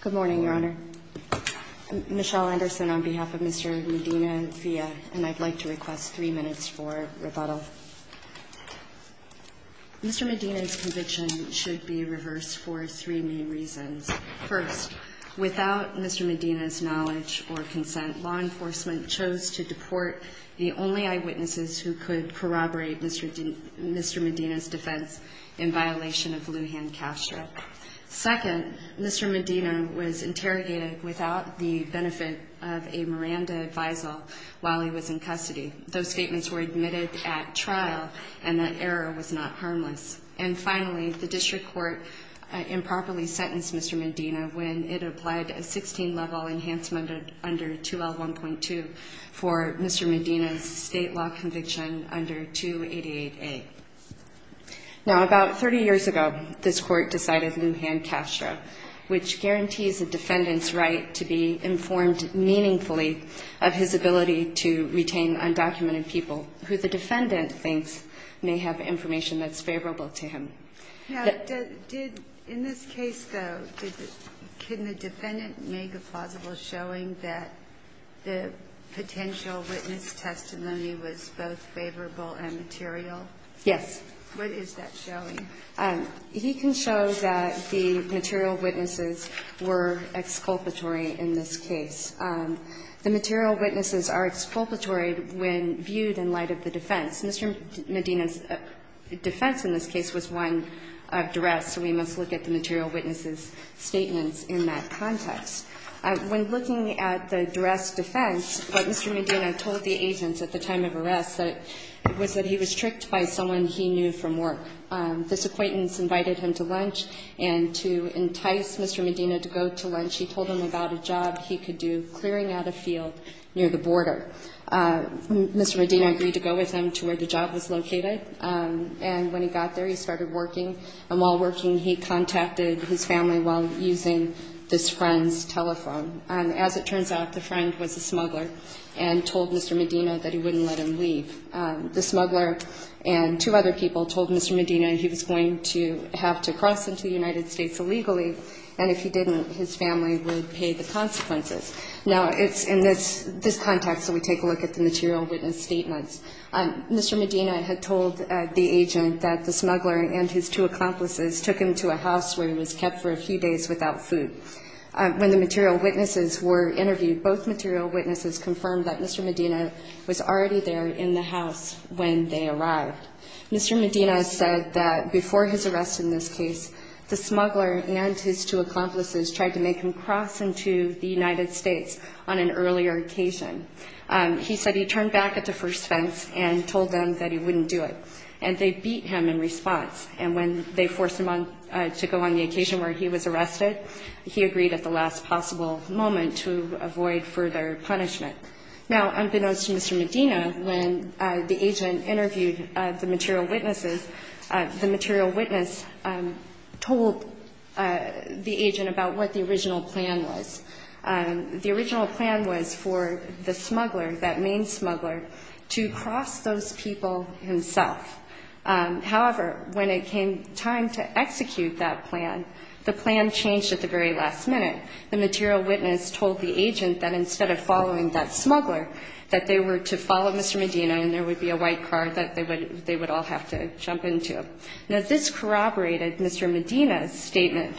Good morning, Your Honor. Michelle Anderson on behalf of Mr. Medina-Villa, and I'd like to request three minutes for rebuttal. Mr. Medina's conviction should be reversed for three main reasons. First, without Mr. Medina's knowledge or consent, law enforcement chose to deport the only eyewitnesses who could corroborate Mr. Medina's defense in violation of Lujan Castro. Second, Mr. Medina was interrogated without the benefit of a Miranda advisal while he was in custody. Those statements were admitted at trial, and that error was not harmless. And finally, the district court improperly sentenced Mr. Medina when it applied a 16-level enhancement under 2L1.2 for Mr. Medina's state law conviction under 288A. Now, about 30 years ago, this Court decided Lujan Castro, which guarantees a defendant's right to be informed meaningfully of his ability to retain undocumented people who the defendant thinks may have information that's favorable to him. Now, did the – in this case, though, did the – can the defendant make a plausible showing that the potential witness testimony was both favorable and material? Yes. What is that showing? He can show that the material witnesses were exculpatory in this case. The material witnesses are exculpatory when viewed in light of the defense. Mr. Medina's defense in this case was one of duress, so we must look at the material witnesses' statements in that context. When looking at the duress defense, what Mr. Medina told the agents at the time of arrest was that he was tricked by someone he knew from work. This acquaintance invited him to lunch, and to entice Mr. Medina to go to lunch, he told him about a job he could do clearing out a field near the border. Mr. Medina agreed to go with him to where the job was located, and when he got there, he started working. And while working, he contacted his family while using this friend's telephone. As it turns out, the friend was a smuggler and told Mr. Medina that he wouldn't let him leave. The smuggler and two other people told Mr. Medina he was going to have to cross into the United States illegally, and if he didn't, his family would pay the consequences. Now, it's in this context that we take a look at the material witness statements. Mr. Medina had told the agent that the smuggler and his two accomplices took him to a house where he was kept for a few days without food. When the material witnesses were interviewed, both material witnesses confirmed that Mr. Medina was already there in the house when they arrived. Mr. Medina said that before his arrest in this case, the smuggler and his two accomplices tried to make him cross into the United States on an earlier occasion. He said he turned back at the first fence and told them that he wouldn't do it, and they beat him in response. And when they forced him to go on the occasion where he was arrested, he agreed at the last possible moment to avoid further punishment. Now, unbeknownst to Mr. Medina, when the agent interviewed the material witnesses, the material witness told the agent about what the original plan was. The original plan was for the smuggler, that main smuggler, to cross those people himself. However, when it came time to execute that plan, the plan changed at the very last minute. The material witness told the agent that instead of following that smuggler, that they were to follow Mr. Medina, and there would be a white car that they would all have to jump into. Now, this corroborated Mr. Medina's statement,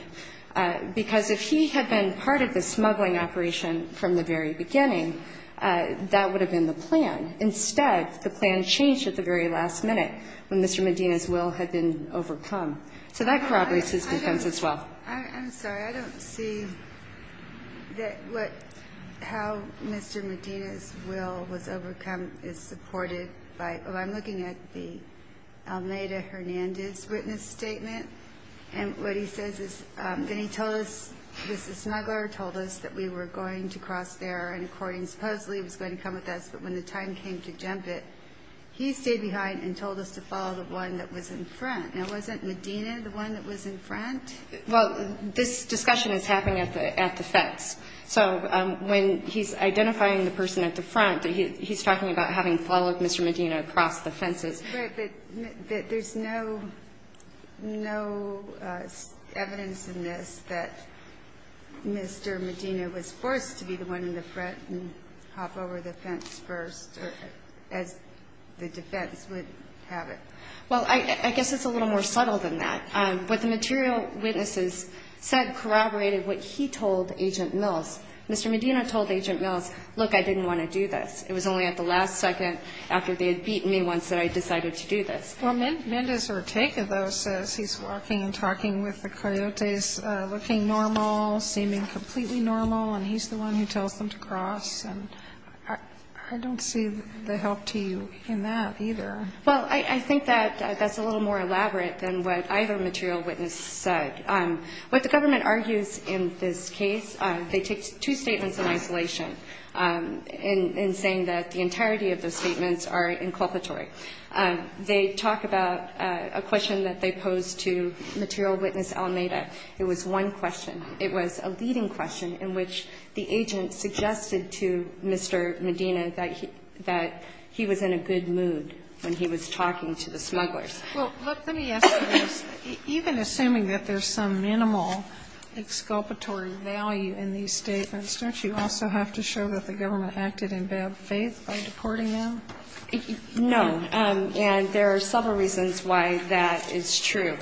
because if he had been part of the smuggling operation from the very beginning, that would have been the plan. Instead, the plan changed at the very last minute when Mr. Medina's will had been So that corroborates his defense as well. I'm sorry, I don't see that what, how Mr. Medina's will was overcome is supported by, well, I'm looking at the Almeida-Hernandez witness statement, and what he says is that he told us, this smuggler told us that we were going to cross there in accordance, supposedly he was going to come with us, but when the time came to jump it, he stayed behind and told us to follow the one that was in front. Now, wasn't Medina the one that was in front? Well, this discussion is happening at the fence. So when he's identifying the person at the front, he's talking about having followed Mr. Medina across the fences. But there's no evidence in this that Mr. Medina was forced to be the one in the front and hop over the fence first, as the defense would have it. Well, I guess it's a little more subtle than that. What the material witnesses said corroborated what he told Agent Mills. Mr. Medina told Agent Mills, look, I didn't want to do this. It was only at the last second after they had beaten me once that I decided to do this. Well, Mendez Ortega, though, says he's walking and talking with the coyotes, looking normal, seeming completely normal, and he's the one who tells them to cross. And I don't see the help to you in that either. Well, I think that that's a little more elaborate than what either material witness said. What the government argues in this case, they take two statements in isolation in saying that the entirety of the statements are inculpatory. They talk about a question that they posed to material witness Almeida. It was one question. It was a leading question in which the agent suggested to Mr. Medina that he was in a good mood when he was talking to the smugglers. Well, look, let me ask you this. Even assuming that there's some minimal exculpatory value in these statements, don't you also have to show that the government acted in bad faith by deporting them? No. And there are several reasons why that is true.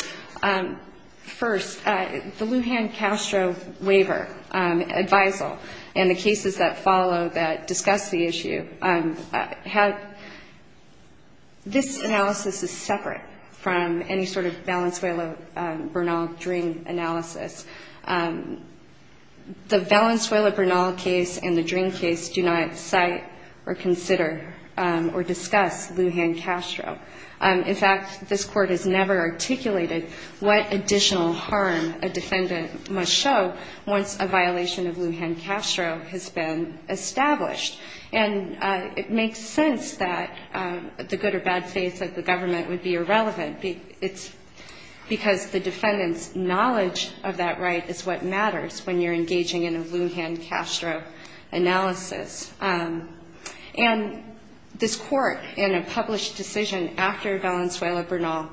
First, the Lujan Castro waiver, advisal, and the cases that follow that discuss the issue have, this analysis is separate from any sort of Valenzuela Bernal dream analysis. The Valenzuela Bernal case and the dream case do not cite or consider or discuss Lujan Castro. In fact, this Court has never articulated what additional harm a defendant must show once a violation of Lujan Castro has been established. And it makes sense that the good or bad faith of the government would be irrelevant. It's because the defendant's knowledge of that right is what matters when you're engaging in a Lujan Castro analysis. And this Court, in a published decision after Valenzuela Bernal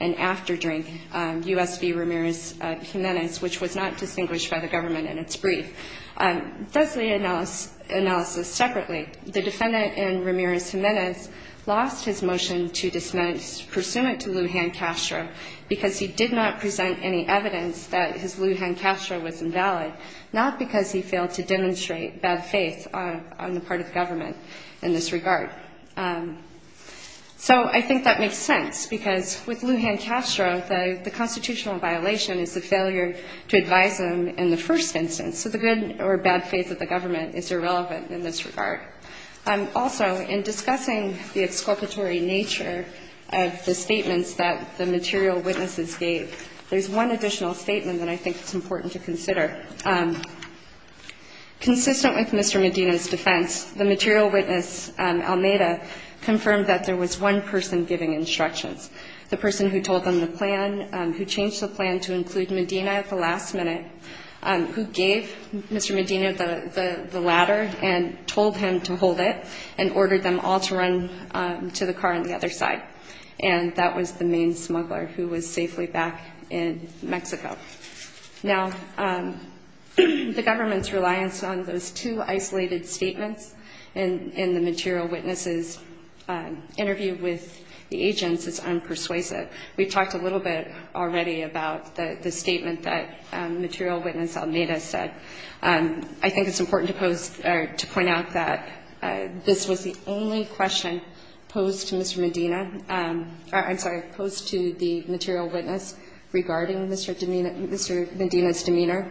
and after U.S.V. Ramirez Jimenez, which was not distinguished by the government in its brief, does the analysis separately. The defendant in Ramirez Jimenez lost his motion to dismiss, pursuant to Lujan Castro, because he did not present any evidence that his Lujan Castro was invalid, not because he failed to demonstrate bad faith on the part of the government in this regard. So I think that makes sense, because with Lujan Castro, the constitutional violation is the failure to advise him in the first instance. So the good or bad faith of the government is irrelevant in this regard. Also, in discussing the exculpatory nature of the statements that the material witnesses gave, there's one additional statement that I think is important to consider. Consistent with Mr. Medina's defense, the material witness, Almeda, confirmed that there was one person giving instructions, the person who told them the plan, who changed the plan to include Medina at the last minute, who gave Mr. Medina the ladder and told him to hold it and ordered them all to run to the car on the other side. And that was the main smuggler, who was safely back in Mexico. Now, the government's reliance on those two isolated statements in the material witness's interview with the agents is unpersuasive. We've talked a little bit already about the statement that material witness Almeda said. I think it's important to pose or to point out that this was the only question posed to Mr. Medina or, I'm sorry, posed to the material witness regarding Mr. Medina's demeanor.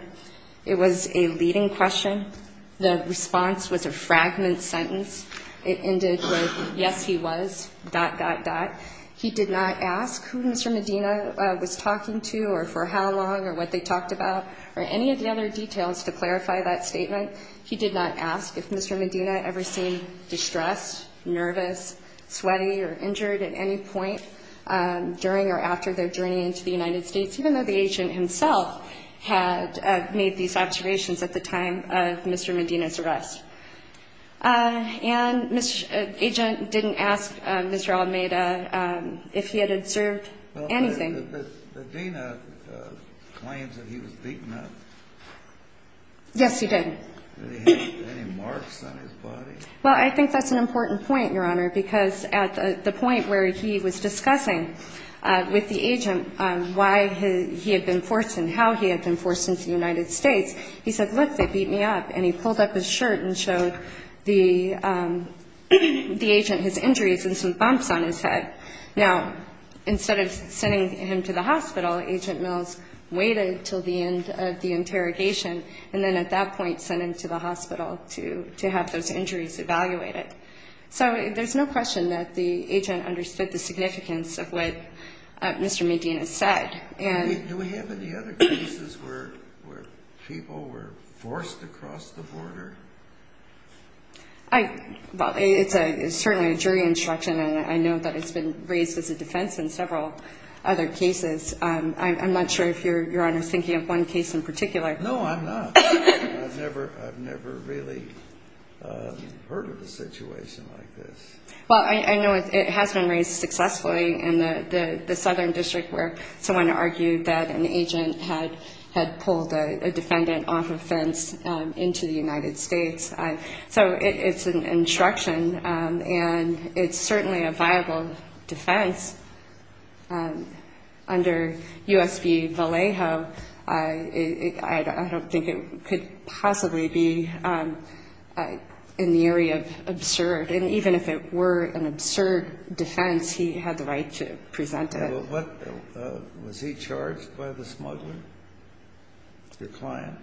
It was a leading question. The response was a fragment sentence. It ended with, yes, he was, dot, dot, dot. He did not ask who Mr. Medina was talking to or for how long or what they talked about or any of the other details to clarify that statement. He did not ask if Mr. Medina ever seemed distressed, nervous, sweaty, or injured at any point during or after their journey into the United States, even though the agent himself had made these observations at the time of Mr. Medina's arrest. And Agent didn't ask Mr. Almeda if he had observed anything. Well, but Medina claims that he was beaten up. Yes, he did. Did he have any marks on his body? Well, I think that's an important point, Your Honor, because at the point where he was discussing with the agent why he had been forced and how he had been forced into the United States, he said, look, they beat me up. And he pulled up his shirt and showed the agent his injuries and some bumps on his head. Now, instead of sending him to the hospital, Agent Mills waited until the end of the interrogation and then at that point sent him to the hospital to have those injuries evaluated. So there's no question that the agent understood the significance of what Mr. Medina said. Do we have any other cases where people were forced to cross the border? Well, it's certainly a jury instruction, and I know that it's been raised as a defense in several other cases. I'm not sure if you're, Your Honor, thinking of one case in particular. No, I'm not. I've never really heard of a situation like this. Well, I know it has been raised successfully in the southern district where someone argued that an agent had pulled a defendant off a fence into the United States. So it's an instruction, and it's certainly a viable defense. Under U.S. v. Vallejo, I don't think it could possibly be in the area of absurd. And even if it were an absurd defense, he had the right to present it. Was he charged by the smuggler, the client?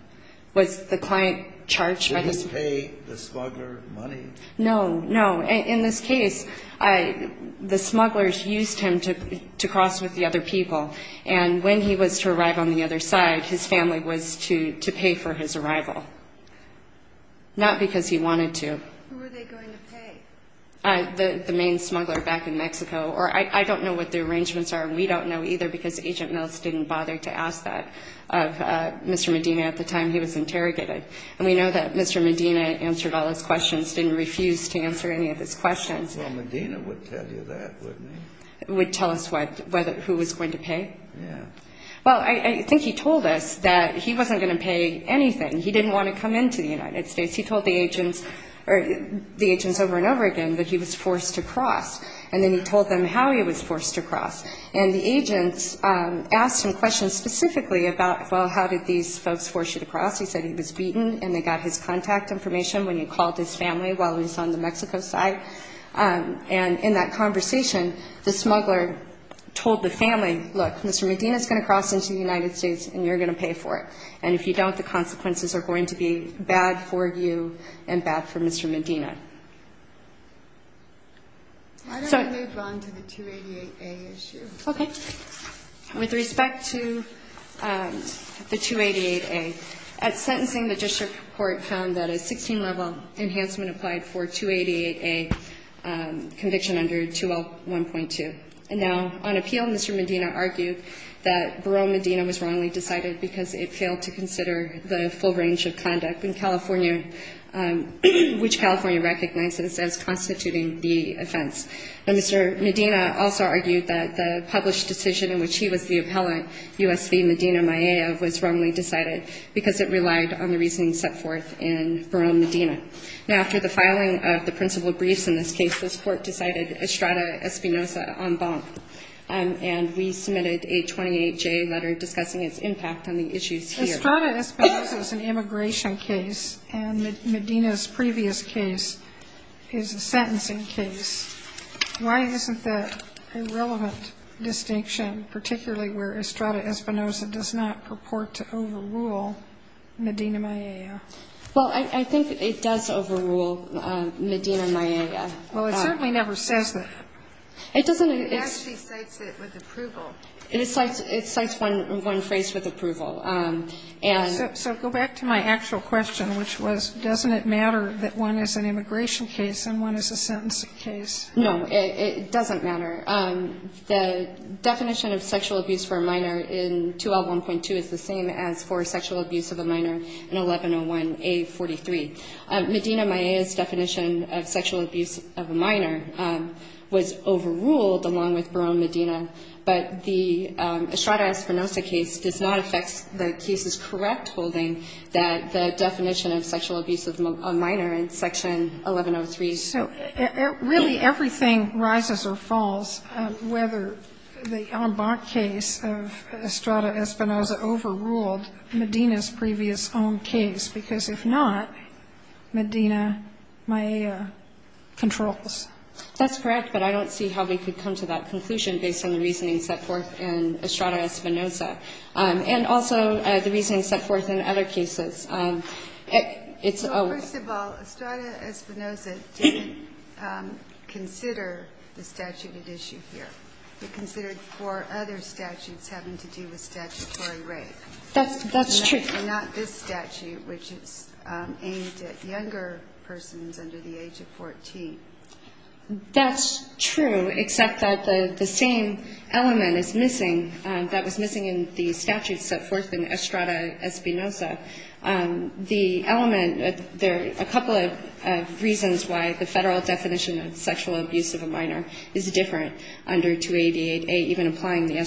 Was the client charged by the smuggler? Did he pay the smuggler money? No, no. In this case, the smugglers used him to cross with the other people, and when he was to arrive on the other side, his family was to pay for his arrival, not because he wanted to. Who were they going to pay? The main smuggler back in Mexico. Or I don't know what the arrangements are, and we don't know either, because Agent Mills didn't bother to ask that of Mr. Medina at the time he was interrogated. And we know that Mr. Medina answered all his questions, didn't refuse to answer any of his questions. Well, Medina would tell you that, wouldn't he? Would tell us who was going to pay? Yeah. Well, I think he told us that he wasn't going to pay anything. He didn't want to come into the United States. He told the agents over and over again that he was forced to cross, and then he told them how he was forced to cross. And the agents asked him questions specifically about, well, how did these folks force you to cross? He said he was beaten and they got his contact information when he called his family while he was on the Mexico side. And in that conversation, the smuggler told the family, look, Mr. Medina is going to cross into the United States and you're going to pay for it, and if you don't, the consequences are going to be bad for you and bad for Mr. Medina. So why don't we move on to the 288A issue? Okay. With respect to the 288A, at sentencing the district court found that a 16-level enhancement applied for 288A conviction under 2L1.2. Now, on appeal, Mr. Medina argued that Barone Medina was wrongly decided because it failed to consider the full range of conduct in California, which California recognizes as constituting the offense. Now, Mr. Medina also argued that the published decision in which he was the appellant, U.S. v. Medina Maella, was wrongly decided because it relied on the reasoning set forth in Barone Medina. Now, after the filing of the principal briefs in this case, this Court decided Estrada Espinoza on bonk, and we submitted a 28J letter discussing its impact on the issues here. Estrada Espinoza is an immigration case, and Medina's previous case is a sentencing case. Why isn't that a relevant distinction, particularly where Estrada Espinoza does not purport to overrule Medina Maella? Well, I think it does overrule Medina Maella. Well, it certainly never says that. It doesn't. It actually cites it with approval. It cites one phrase with approval. So go back to my actual question, which was, doesn't it matter that one is an immigration case and one is a sentencing case? No, it doesn't matter. The definition of sexual abuse for a minor in 2L1.2 is the same as for sexual abuse of a minor in 1101A43. Medina Maella's definition of sexual abuse of a minor was overruled along with Barone Medina, but the Estrada Espinoza case does not affect the case's correct holding that the definition of sexual abuse of a minor in Section 1103. So really everything rises or falls whether the en banc case of Estrada Espinoza overruled Medina's previous own case, because if not, Medina Maella controls. That's correct, but I don't see how we could come to that conclusion based on the reasoning set forth in Estrada Espinoza and also the reasoning set forth in other cases. First of all, Estrada Espinoza didn't consider the statute at issue here. It considered four other statutes having to do with statutory rape. That's true. And not this statute, which is aimed at younger persons under the age of 14. That's true, except that the same element is missing, that was missing in the statute set forth in Estrada Espinoza. The element, there are a couple of reasons why the Federal definition of sexual abuse of a minor is different under 2888, even applying the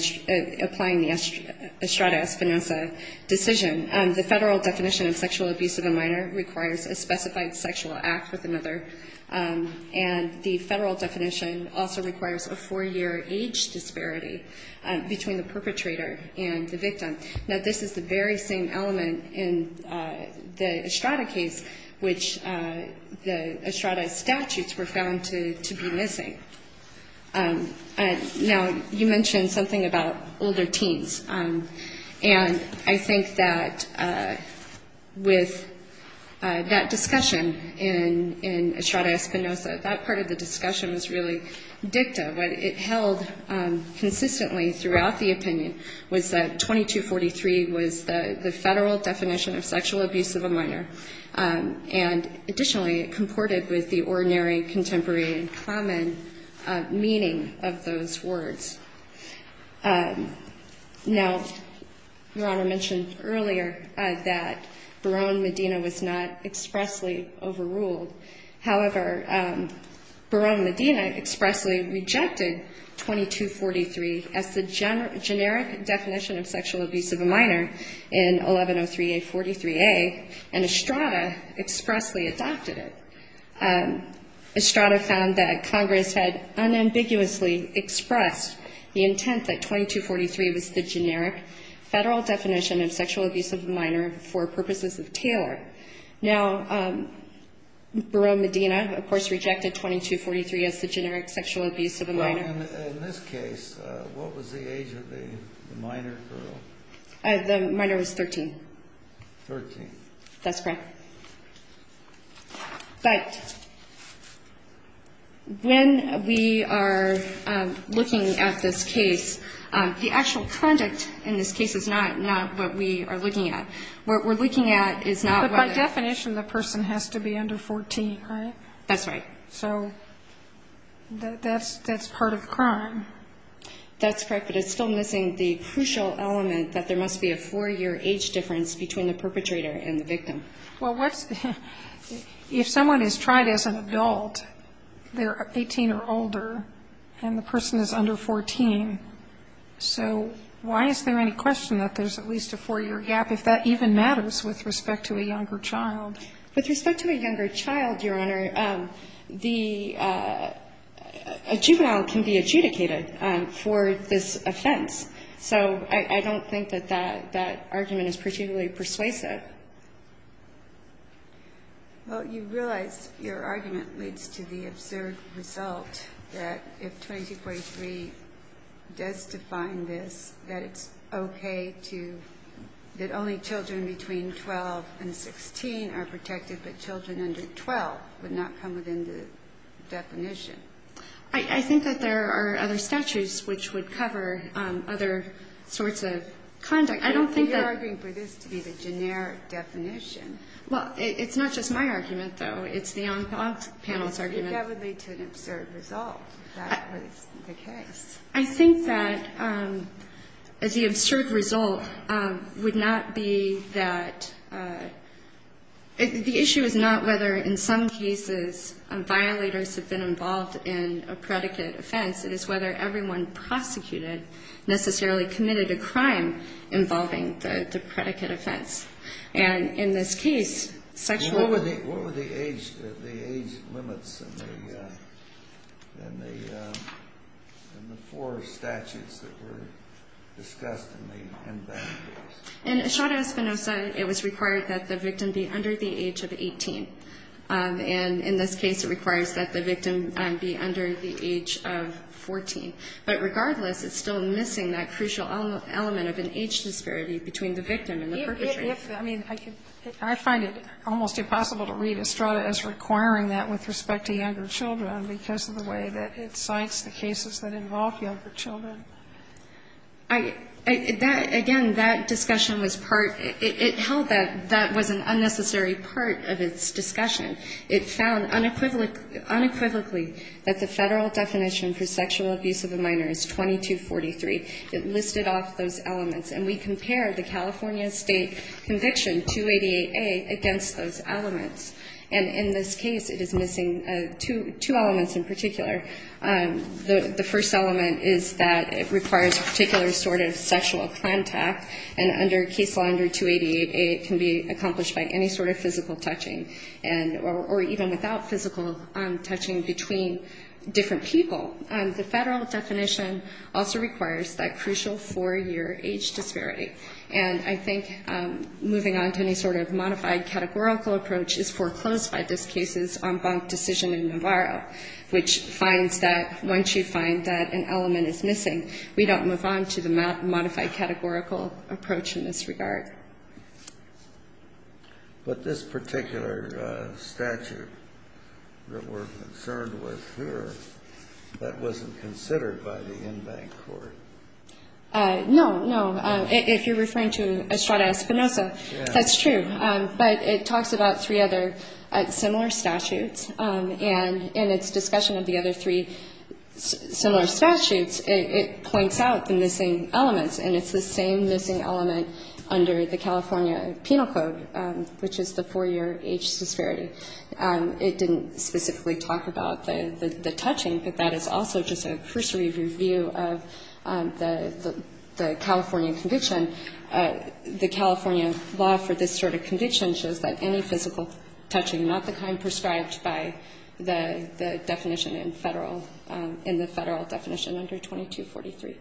Estrada Espinoza decision. The Federal definition of sexual abuse of a minor requires a specified sexual act with another, and the Federal definition also requires a four-year age disparity between the perpetrator and the victim. Now, this is the very same element in the Estrada case, which the Estrada statutes were found to be missing. Now, you mentioned something about older teens. And I think that with that discussion in Estrada Espinoza, that part of the discussion was really dicta. What it held consistently throughout the opinion was that 2243 was the Federal definition of sexual abuse of a minor. And additionally, it comported with the ordinary contemporary and common meaning of those words. Now, Your Honor mentioned earlier that Barone Medina was not expressly overruled. However, Barone Medina expressly rejected 2243 as the generic definition of sexual abuse of a minor in 1103A43A, and Estrada expressly adopted it. Estrada found that Congress had unambiguously expressed the intent that 2243 was the generic Federal definition of sexual abuse of a minor for purposes of Taylor. Now, Barone Medina, of course, rejected 2243 as the generic sexual abuse of a minor. In this case, what was the age of the minor girl? The minor was 13. Thirteen. That's correct. But when we are looking at this case, the actual conduct in this case is not what we are looking at. What we're looking at is not what the definition of the person has to be under 14, right? That's right. So that's part of the crime. That's correct. But it's still missing the crucial element that there must be a four-year age difference between the perpetrator and the victim. Well, what's the ‑‑ if someone is tried as an adult, they're 18 or older, and the person is under 14, so why is there any question that there's at least a four-year gap, if that even matters with respect to a younger child? With respect to a younger child, Your Honor, the juvenile can be adjudicated for this offense. So I don't think that that argument is particularly persuasive. Well, you realize your argument leads to the absurd result that if 2243 does define this, that it's okay to ‑‑ that only children between 12 and 16 are protected, but children under 12 would not come within the definition. I think that there are other statutes which would cover other sorts of conduct. I don't think that ‑‑ You're arguing for this to be the generic definition. Well, it's not just my argument, though. It's the panel's argument. That would lead to an absurd result if that was the case. I think that the absurd result would not be that ‑‑ the issue is not whether in some cases violators have been involved in a predicate offense. It is whether everyone prosecuted necessarily committed a crime involving the predicate offense. And in this case, sexual ‑‑ In Estrada Espinosa, it was required that the victim be under the age of 18. And in this case, it requires that the victim be under the age of 14. But regardless, it's still missing that crucial element of an age disparity between the victim and the perpetrator. I mean, I find it almost impossible to read Estrada as requiring that with respect to younger children because of the way that it cites the cases that involve younger children. I ‑‑ that ‑‑ again, that discussion was part ‑‑ it held that that was an unnecessary part of its discussion. It found unequivocally that the Federal definition for sexual abuse of a minor is 2243. It listed off those elements. And we compare the California State Conviction 288A against those elements. And in this case, it is missing two elements in particular. The first element is that it requires a particular sort of sexual contact. And under Case Law 288A, it can be accomplished by any sort of physical touching and ‑‑ or even without physical touching between different people. The Federal definition also requires that crucial four‑year age disparity. And I think moving on to any sort of modified categorical approach is foreclosed by this case's en banc decision in Navarro, which finds that once you find that an element is missing, we don't move on to the modified categorical approach in this regard. But this particular statute that we're concerned with here, that wasn't considered by the in‑bank court. No, no. If you're referring to Estrada Espinosa, that's true. But it talks about three other similar statutes. And in its discussion of the other three similar statutes, it points out the missing elements. And it's the same missing element under the California Penal Code, which is the four‑year age disparity. It didn't specifically talk about the touching, but that is also just a cursory review of the California condition. The California law for this sort of condition shows that any physical touching, not the kind prescribed by the definition in Federal ‑‑ in the Federal definition under 2243.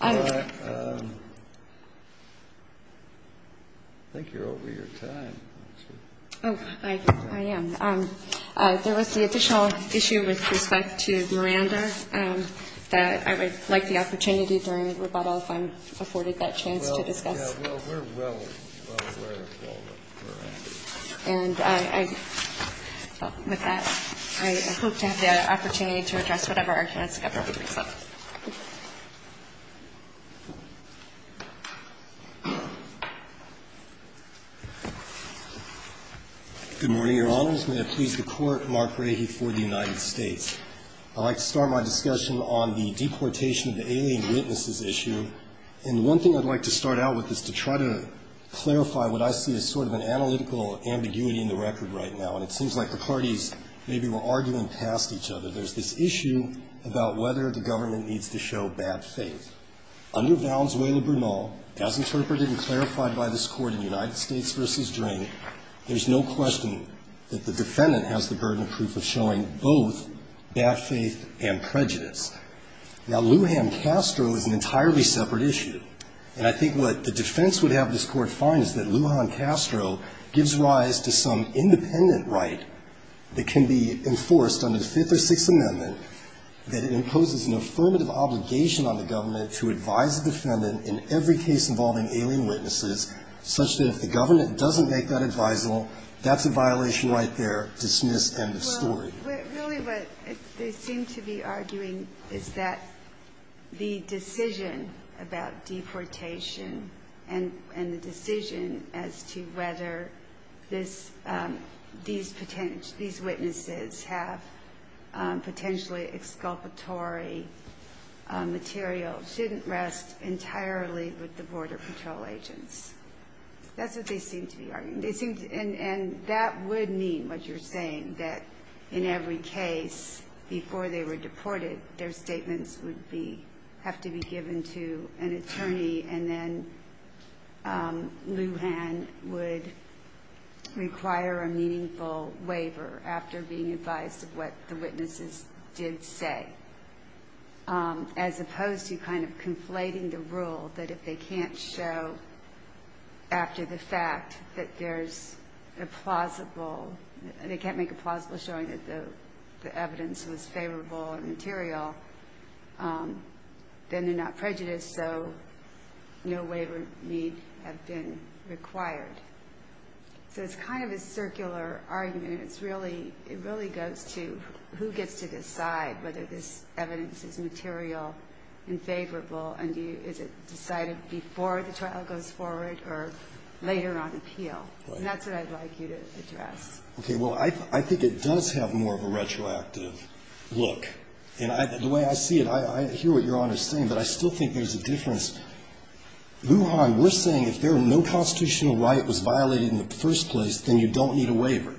All right. I think you're over your time. Oh, I am. There was the additional issue with respect to Miranda that I would like the opportunity during rebuttal if I'm afforded that chance to discuss. Well, yeah, we're well aware of all the Miranda. And with that, I hope to have the opportunity to address whatever our chance of government brings up. Good morning, Your Honors. May it please the Court, Mark Rahe for the United States. I'd like to start my discussion on the deportation of the alien witnesses issue. And one thing I'd like to start out with is to try to clarify what I see as sort of an analytical ambiguity in the record right now. And it seems like the parties maybe were arguing past each other. There's this issue about whether the government needs to show bad faith. Under Valenzuela-Bernal, as interpreted and clarified by this Court in United States versus Drink, there's no question that the defendant has the burden of proof of showing both bad faith and prejudice. Now, Lujan-Castro is an entirely separate issue. And I think what the defense would have this Court find is that Lujan-Castro gives rise to some independent right that can be enforced under the Fifth or Sixth Amendment that it imposes an affirmative obligation on the government to advise the government doesn't make that advisable. That's a violation right there. Dismiss. End of story. Well, really what they seem to be arguing is that the decision about deportation and the decision as to whether these witnesses have potentially exculpatory material shouldn't rest entirely with the Border Patrol agents. That's what they seem to be arguing. And that would mean what you're saying, that in every case, before they were deported, their statements would have to be given to an attorney, and then Lujan would require a meaningful waiver after being advised of what the witnesses did say, as opposed to kind of conflating the rule that if they can't show after the fact that there's a plausible and they can't make a plausible showing that the evidence was favorable and material, then they're not prejudiced, so no waiver need have been required. So it's kind of a circular argument. It really goes to who gets to decide whether this evidence is material and favorable, and is it decided before the trial goes forward or later on appeal? And that's what I'd like you to address. Okay. Well, I think it does have more of a retroactive look. And the way I see it, I hear what Your Honor is saying, but I still think there's a difference. Lujan, we're saying if no constitutional right was violated in the first place, then you don't need a waiver.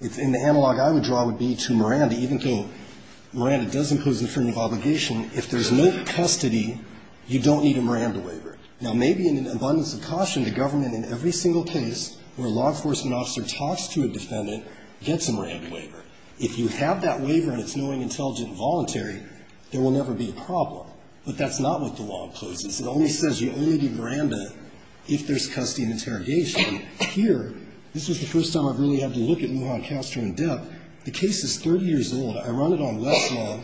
And the analog I would draw would be to Miranda. Even though Miranda does impose the freedom of obligation, if there's no custody, you don't need a Miranda waiver. Now, maybe in an abundance of caution, the government in every single case where a law enforcement officer talks to a defendant gets a Miranda waiver. If you have that waiver and it's knowing, intelligent, and voluntary, there will never be a problem. But that's not what the law imposes. It only says you only do Miranda if there's custody and interrogation. Here, this is the first time I've really had to look at Lujan Castro in depth. The case is 30 years old. I run it on less law.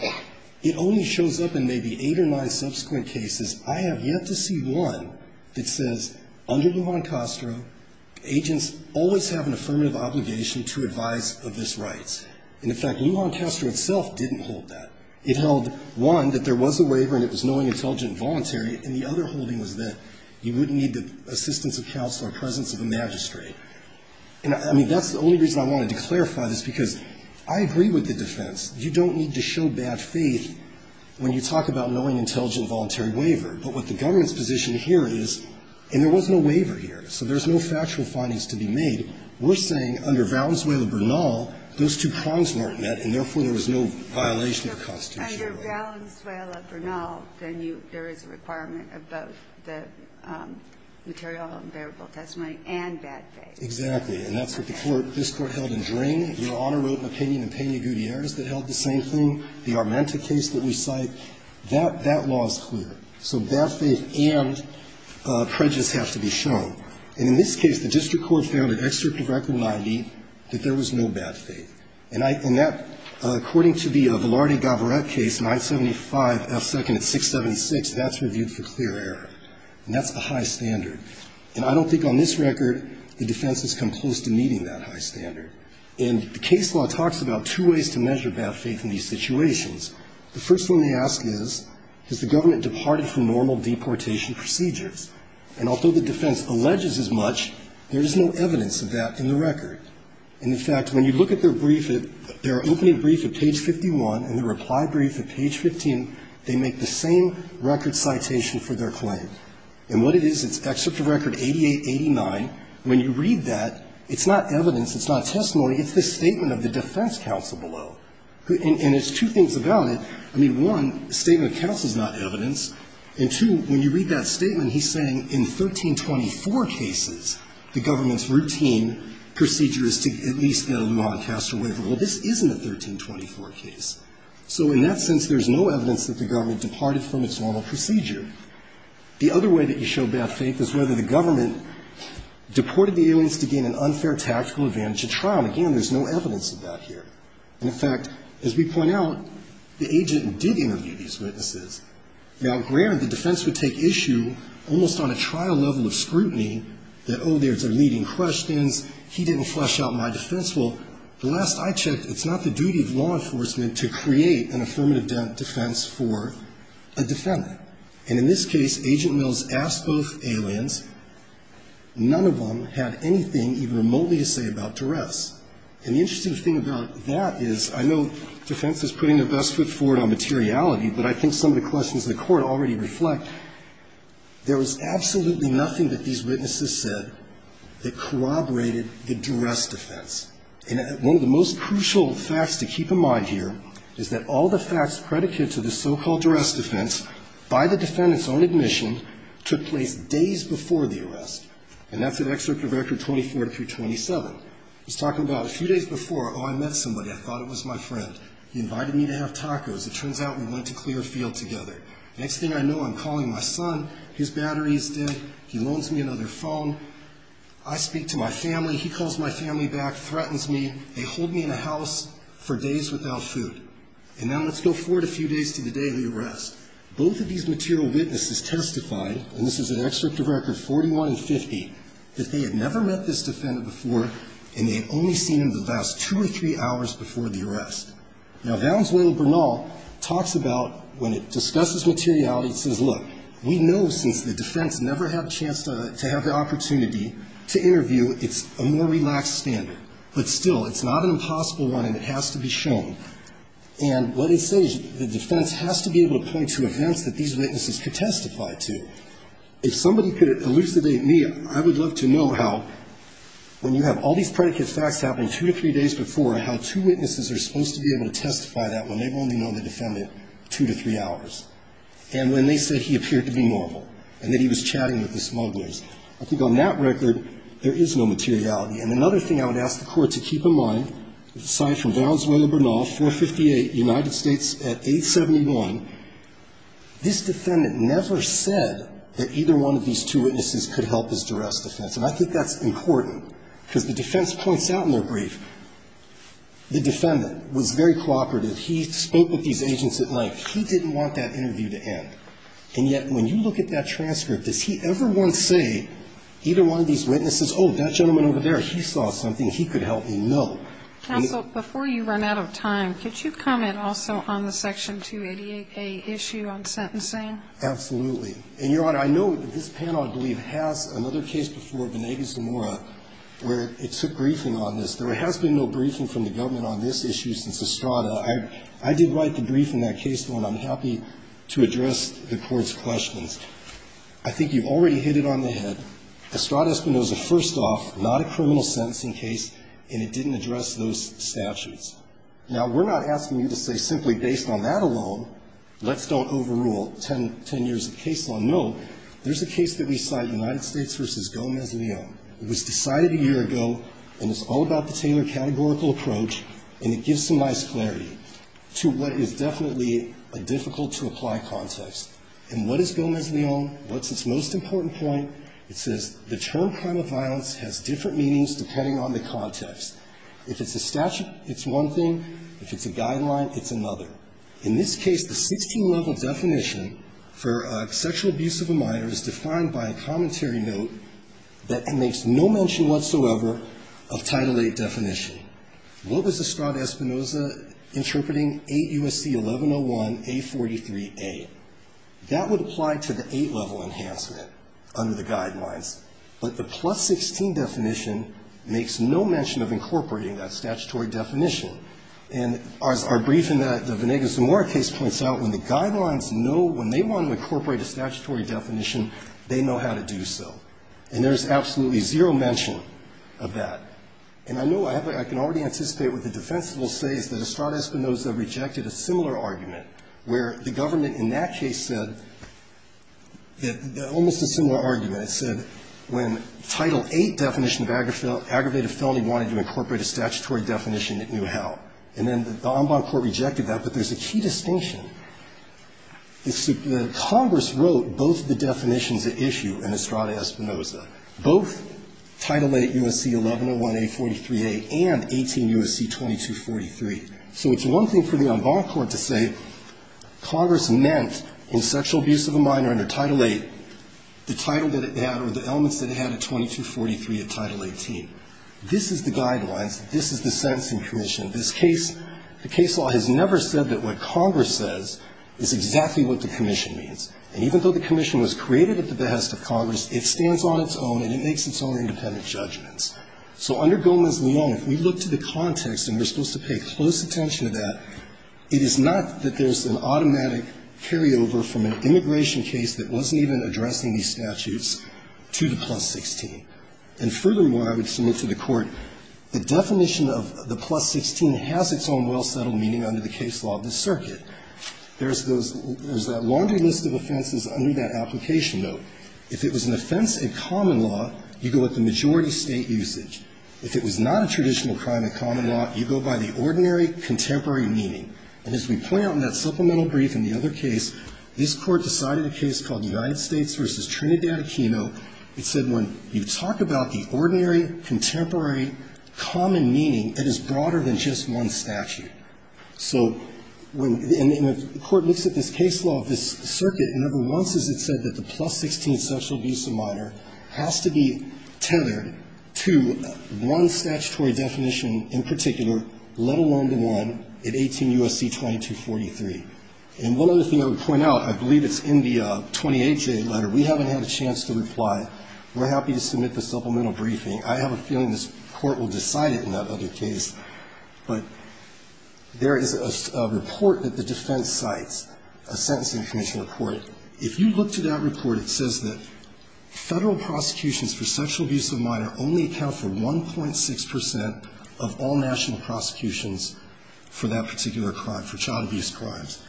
It only shows up in maybe eight or nine subsequent cases. I have yet to see one that says under Lujan Castro, agents always have an affirmative obligation to advise of this right. And, in fact, Lujan Castro itself didn't hold that. It held, one, that there was a waiver and it was knowing, intelligent, and voluntary, and the other holding was that you wouldn't need the assistance of counsel or presence of a magistrate. And, I mean, that's the only reason I wanted to clarify this, because I agree with the defense. You don't need to show bad faith when you talk about knowing, intelligent, and voluntary waiver. But what the government's position here is, and there was no waiver here, so there's no factual findings to be made. We're saying under Valenzuela-Bernal, those two prongs weren't met, and, therefore, there was no violation of the Constitution. And under Valenzuela-Bernal, then you – there is a requirement of both the material and bearable testimony and bad faith. Exactly. And that's what the Court – this Court held in Dring. Your Honor wrote an opinion in Peña Gutierrez that held the same thing. The Armenta case that we cite, that law is clear. So bad faith and prejudice have to be shown. And in this case, the district court found in Excerpt of Record 90 that there was no bad faith. And I – and that, according to the Velarde-Gavarrette case, 975 F. 2nd at 676, that's reviewed for clear error. And that's a high standard. And I don't think on this record the defense has come close to meeting that high standard. And the case law talks about two ways to measure bad faith in these situations. The first one they ask is, has the government departed from normal deportation procedures? And although the defense alleges as much, there is no evidence of that in the record. And, in fact, when you look at their brief, their opening brief at page 51 and their reply brief at page 15, they make the same record citation for their claim. And what it is, it's Excerpt of Record 8889. When you read that, it's not evidence, it's not a testimony. It's the statement of the defense counsel below. And there's two things about it. I mean, one, the statement of counsel is not evidence. And, two, when you read that statement, he's saying in 1324 cases, the government's procedure is to at least get a noncaster waiver. Well, this isn't a 1324 case. So in that sense, there's no evidence that the government departed from its normal procedure. The other way that you show bad faith is whether the government deported the aliens to gain an unfair tactical advantage at trial. And, again, there's no evidence of that here. And, in fact, as we point out, the agent did interview these witnesses. Now, granted, the defense would take issue almost on a trial level of scrutiny that, oh, there's a leading questions. He didn't flesh out my defense. Well, the last I checked, it's not the duty of law enforcement to create an affirmative defense for a defendant. And in this case, Agent Mills asked both aliens. None of them had anything even remotely to say about duress. And the interesting thing about that is I know defense is putting their best foot forward on materiality, but I think some of the questions in the Court already reflect there was absolutely nothing that these witnesses said that corroborated the duress defense. And one of the most crucial facts to keep in mind here is that all the facts predicated to the so-called duress defense by the defendant's own admission took place days before the arrest. And that's at Executive Order 24-27. It's talking about a few days before, oh, I met somebody. I thought it was my friend. He invited me to have tacos. It turns out we went to Clearfield together. Next thing I know, I'm calling my son. His battery is dead. He loans me another phone. I speak to my family. He calls my family back, threatens me. They hold me in a house for days without food. And now let's go forward a few days to the day of the arrest. Both of these material witnesses testified, and this is at Executive Record 41 and 50, that they had never met this defendant before and they had only seen him the last two or three hours before the arrest. Now Valenzuela Bernal talks about when it discusses materiality, it says, look, we know since the defense never had a chance to have the opportunity to interview, it's a more relaxed standard. But still, it's not an impossible one and it has to be shown. And what it says, the defense has to be able to point to events that these witnesses could testify to. If somebody could elucidate me, I would love to know how, when you have all these predicate facts happening two to three days before, how two witnesses are supposed to be able to testify that when they've only known the defendant two to three hours. And when they said he appeared to be normal and that he was chatting with the smugglers. I think on that record, there is no materiality. And another thing I would ask the Court to keep in mind, aside from Valenzuela Bernal, 458, United States at 871, this defendant never said that either one of these two witnesses could help his duress defense. And I think that's important, because the defense points out in their brief, the defendant was very cooperative. He spoke with these agents at length. He didn't want that interview to end. And yet, when you look at that transcript, does he ever once say, either one of these witnesses, oh, that gentleman over there, he saw something he could help me know. And he didn't. Counsel, before you run out of time, could you comment also on the Section 288A issue on sentencing? Absolutely. And, Your Honor, I know this panel, I believe, has another case before, Vanegas Zamora, where it took briefing on this. There has been no briefing from the government on this issue since Estrada. I did write the brief in that case, and I'm happy to address the Court's questions. I think you've already hit it on the head. Estrada Espinoza, first off, not a criminal sentencing case, and it didn't address those statutes. Now, we're not asking you to say simply based on that alone, let's don't overrule 10 years of case law. No. There's a case that we cite, United States v. Gomez-Leon. It was decided a year ago, and it's all about the Taylor categorical approach, and it gives some nice clarity to what is definitely a difficult-to-apply context. And what is Gomez-Leon? What's its most important point? It says the term crime of violence has different meanings depending on the context. If it's a statute, it's one thing. If it's a guideline, it's another. In this case, the 16-level definition for sexual abuse of a minor is defined by a commentary note that makes no mention whatsoever of Title VIII definition. What was Estrada Espinoza interpreting? 8 U.S.C. 1101A43A. That would apply to the 8-level enhancement under the guidelines. But the plus 16 definition makes no mention of incorporating that statutory definition. And as our brief in the Venegas-Zamora case points out, when the guidelines know when they want to incorporate a statutory definition, they know how to do so. And there's absolutely zero mention of that. And I know I have a – I can already anticipate what the defense will say is that Estrada Espinoza rejected a similar argument, where the government in that case said – almost a similar argument. It said when Title VIII definition of aggravated felony wanted to incorporate a statutory definition, it knew how. And then the En Bond Court rejected that. But there's a key distinction. Congress wrote both the definitions at issue in Estrada Espinoza, both Title VIII U.S.C. 1101A43A and 18 U.S.C. 2243. So it's one thing for the En Bond Court to say Congress meant in sexual abuse of a minor under Title VIII the title that it had or the elements that it had at 2243 of Title XVIII. This is the guidelines. This is the sentencing commission. This case – the case law has never said that what Congress says is exactly what the commission means. And even though the commission was created at the behest of Congress, it stands on its own and it makes its own independent judgments. So under Gomez-Leon, if we look to the context, and we're supposed to pay close attention to that, it is not that there's an automatic carryover from an immigration case that wasn't even addressing these statutes to the plus 16. And furthermore, I would submit to the Court, the definition of the plus 16 has its own well-settled meaning under the case law of the circuit. There's those – there's that laundry list of offenses under that application note. If it was an offense in common law, you go with the majority state usage. If it was not a traditional crime in common law, you go by the ordinary contemporary meaning. And as we point out in that supplemental brief in the other case, this Court decided a case called United States v. Trinidad Aquino. It said when you talk about the ordinary contemporary common meaning, it is broader than just one statute. So when – and the Court looks at this case law of this circuit, and number once is it said that the plus 16 sexual abuse of minor has to be tethered to one statutory definition in particular, let alone the one in 18 U.S.C. 2243. And one other thing I would point out, I believe it's in the 28-J letter. We haven't had a chance to reply. We're happy to submit the supplemental briefing. I have a feeling this Court will decide it in that other case. But there is a report that the defense cites, a sentencing commission report. If you look to that report, it says that Federal prosecutions for sexual abuse of minor only account for 1.6 percent of all national prosecutions for that particular crime, for child abuse crimes.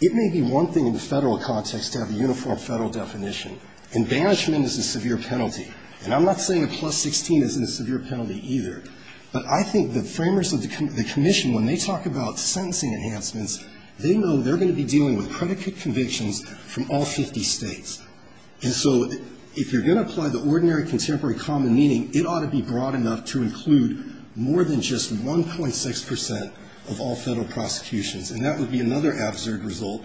It may be one thing in the Federal context to have a uniform Federal definition. And banishment is a severe penalty. And I'm not saying a plus 16 isn't a severe penalty either. But I think the framers of the commission, when they talk about sentencing enhancements, they know they're going to be dealing with predicate convictions from all 50 States. And so if you're going to apply the ordinary contemporary common meaning, it ought to be broad enough to include more than just 1.6 percent of all Federal prosecutions. And that would be another absurd result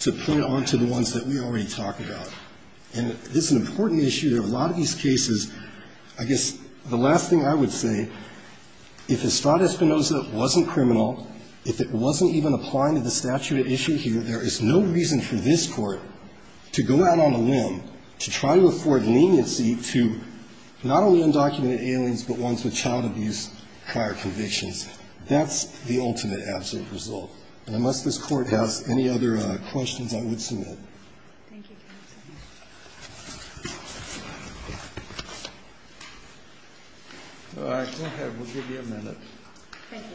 to point on to the ones that we already talked about. And this is an important issue. There are a lot of these cases. I guess the last thing I would say, if Estrada Espinoza wasn't criminal, if it wasn't even applying to the statute at issue here, there is no reason for this Court to go out on a limb to try to afford leniency to not only undocumented aliens, but ones with child abuse prior convictions. That's the ultimate absolute result. And unless this Court has any other questions, I would submit. Thank you, counsel. All right. Go ahead. We'll give you a minute. Thank you.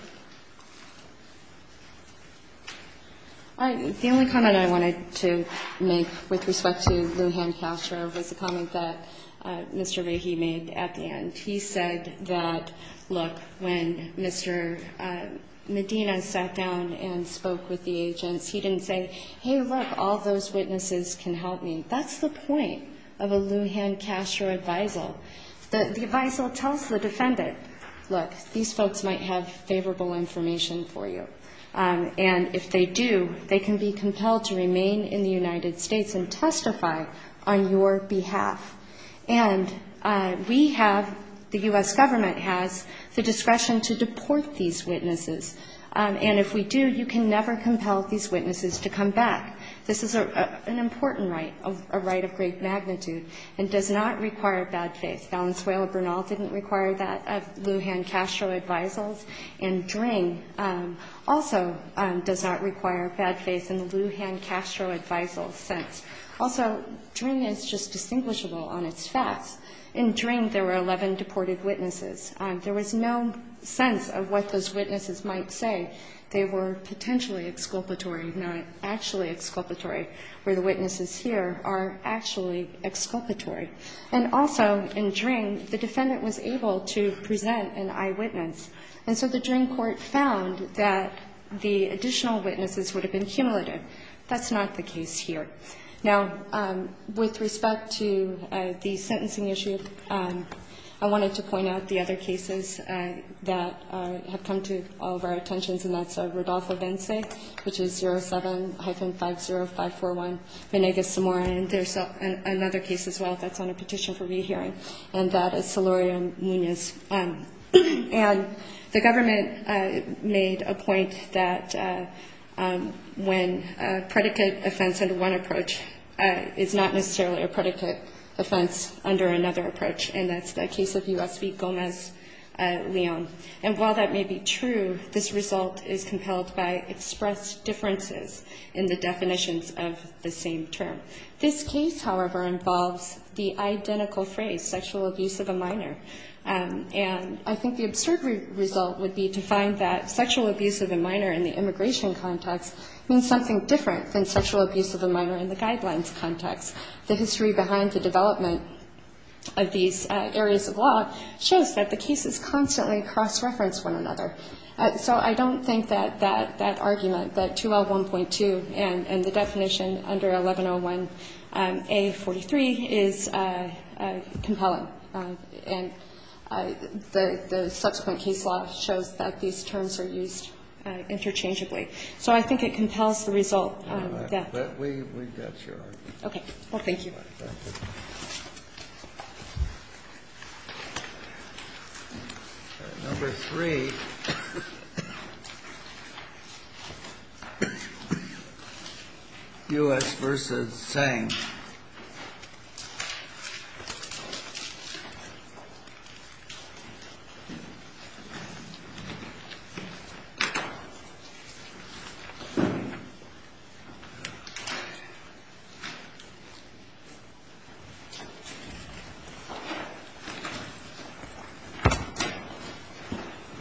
The only comment I wanted to make with respect to Lujan Castro was a comment that Mr. Vahey made at the end. He said that, look, when Mr. Medina sat down and spoke with the agents, he didn't say, hey, look, all those witnesses can help me. That's the point of a Lujan Castro advisal. The advisal tells the defendant, look, these folks might have favorable information for you. And if they do, they can be compelled to remain in the United States and testify on your behalf. And we have, the U.S. Government has, the discretion to deport these witnesses. And if we do, you can never compel these witnesses to come back. This is an important right, a right of great magnitude, and does not require bad faith. Valenzuela-Bernal didn't require that of Lujan Castro advisals, and Dring also does not require bad faith in the Lujan Castro advisal sense. Also, Dring is just distinguishable on its facts. In Dring, there were 11 deported witnesses. There was no sense of what those witnesses might say. They were potentially exculpatory, not actually exculpatory, where the witnesses here are actually exculpatory. And also, in Dring, the defendant was able to present an eyewitness. And so the Dring court found that the additional witnesses would have been cumulative. That's not the case here. Now, with respect to the sentencing issue, I wanted to point out the other cases that have come to all of our attentions, and that's Rodolfo Bence, which is 07-50541, Venegas Zamora, and there's another case as well that's on a petition for rehearing, and that is Solorio Munoz. And the government made a point that when predicate offense under one approach is not necessarily a predicate offense under another approach, and that's the case of USB Gomez-Leon. And while that may be true, this result is compelled by expressed differences in the definitions of the same term. This case, however, involves the identical phrase, sexual abuse of a minor, and I think the absurd result would be to find that sexual abuse of a minor in the immigration context means something different than sexual abuse of a minor in the guidelines context. The history behind the development of these areas of law shows that the cases constantly cross-reference one another. So I don't think that that argument, that 2L1.2 and the definition under 1101A43 is compelling. And the subsequent case law shows that these terms are used interchangeably. So I think it compels the result. Kennedy. But we got your argument. Okay. Thank you. Number three, U.S. versus Tsang. Thank you.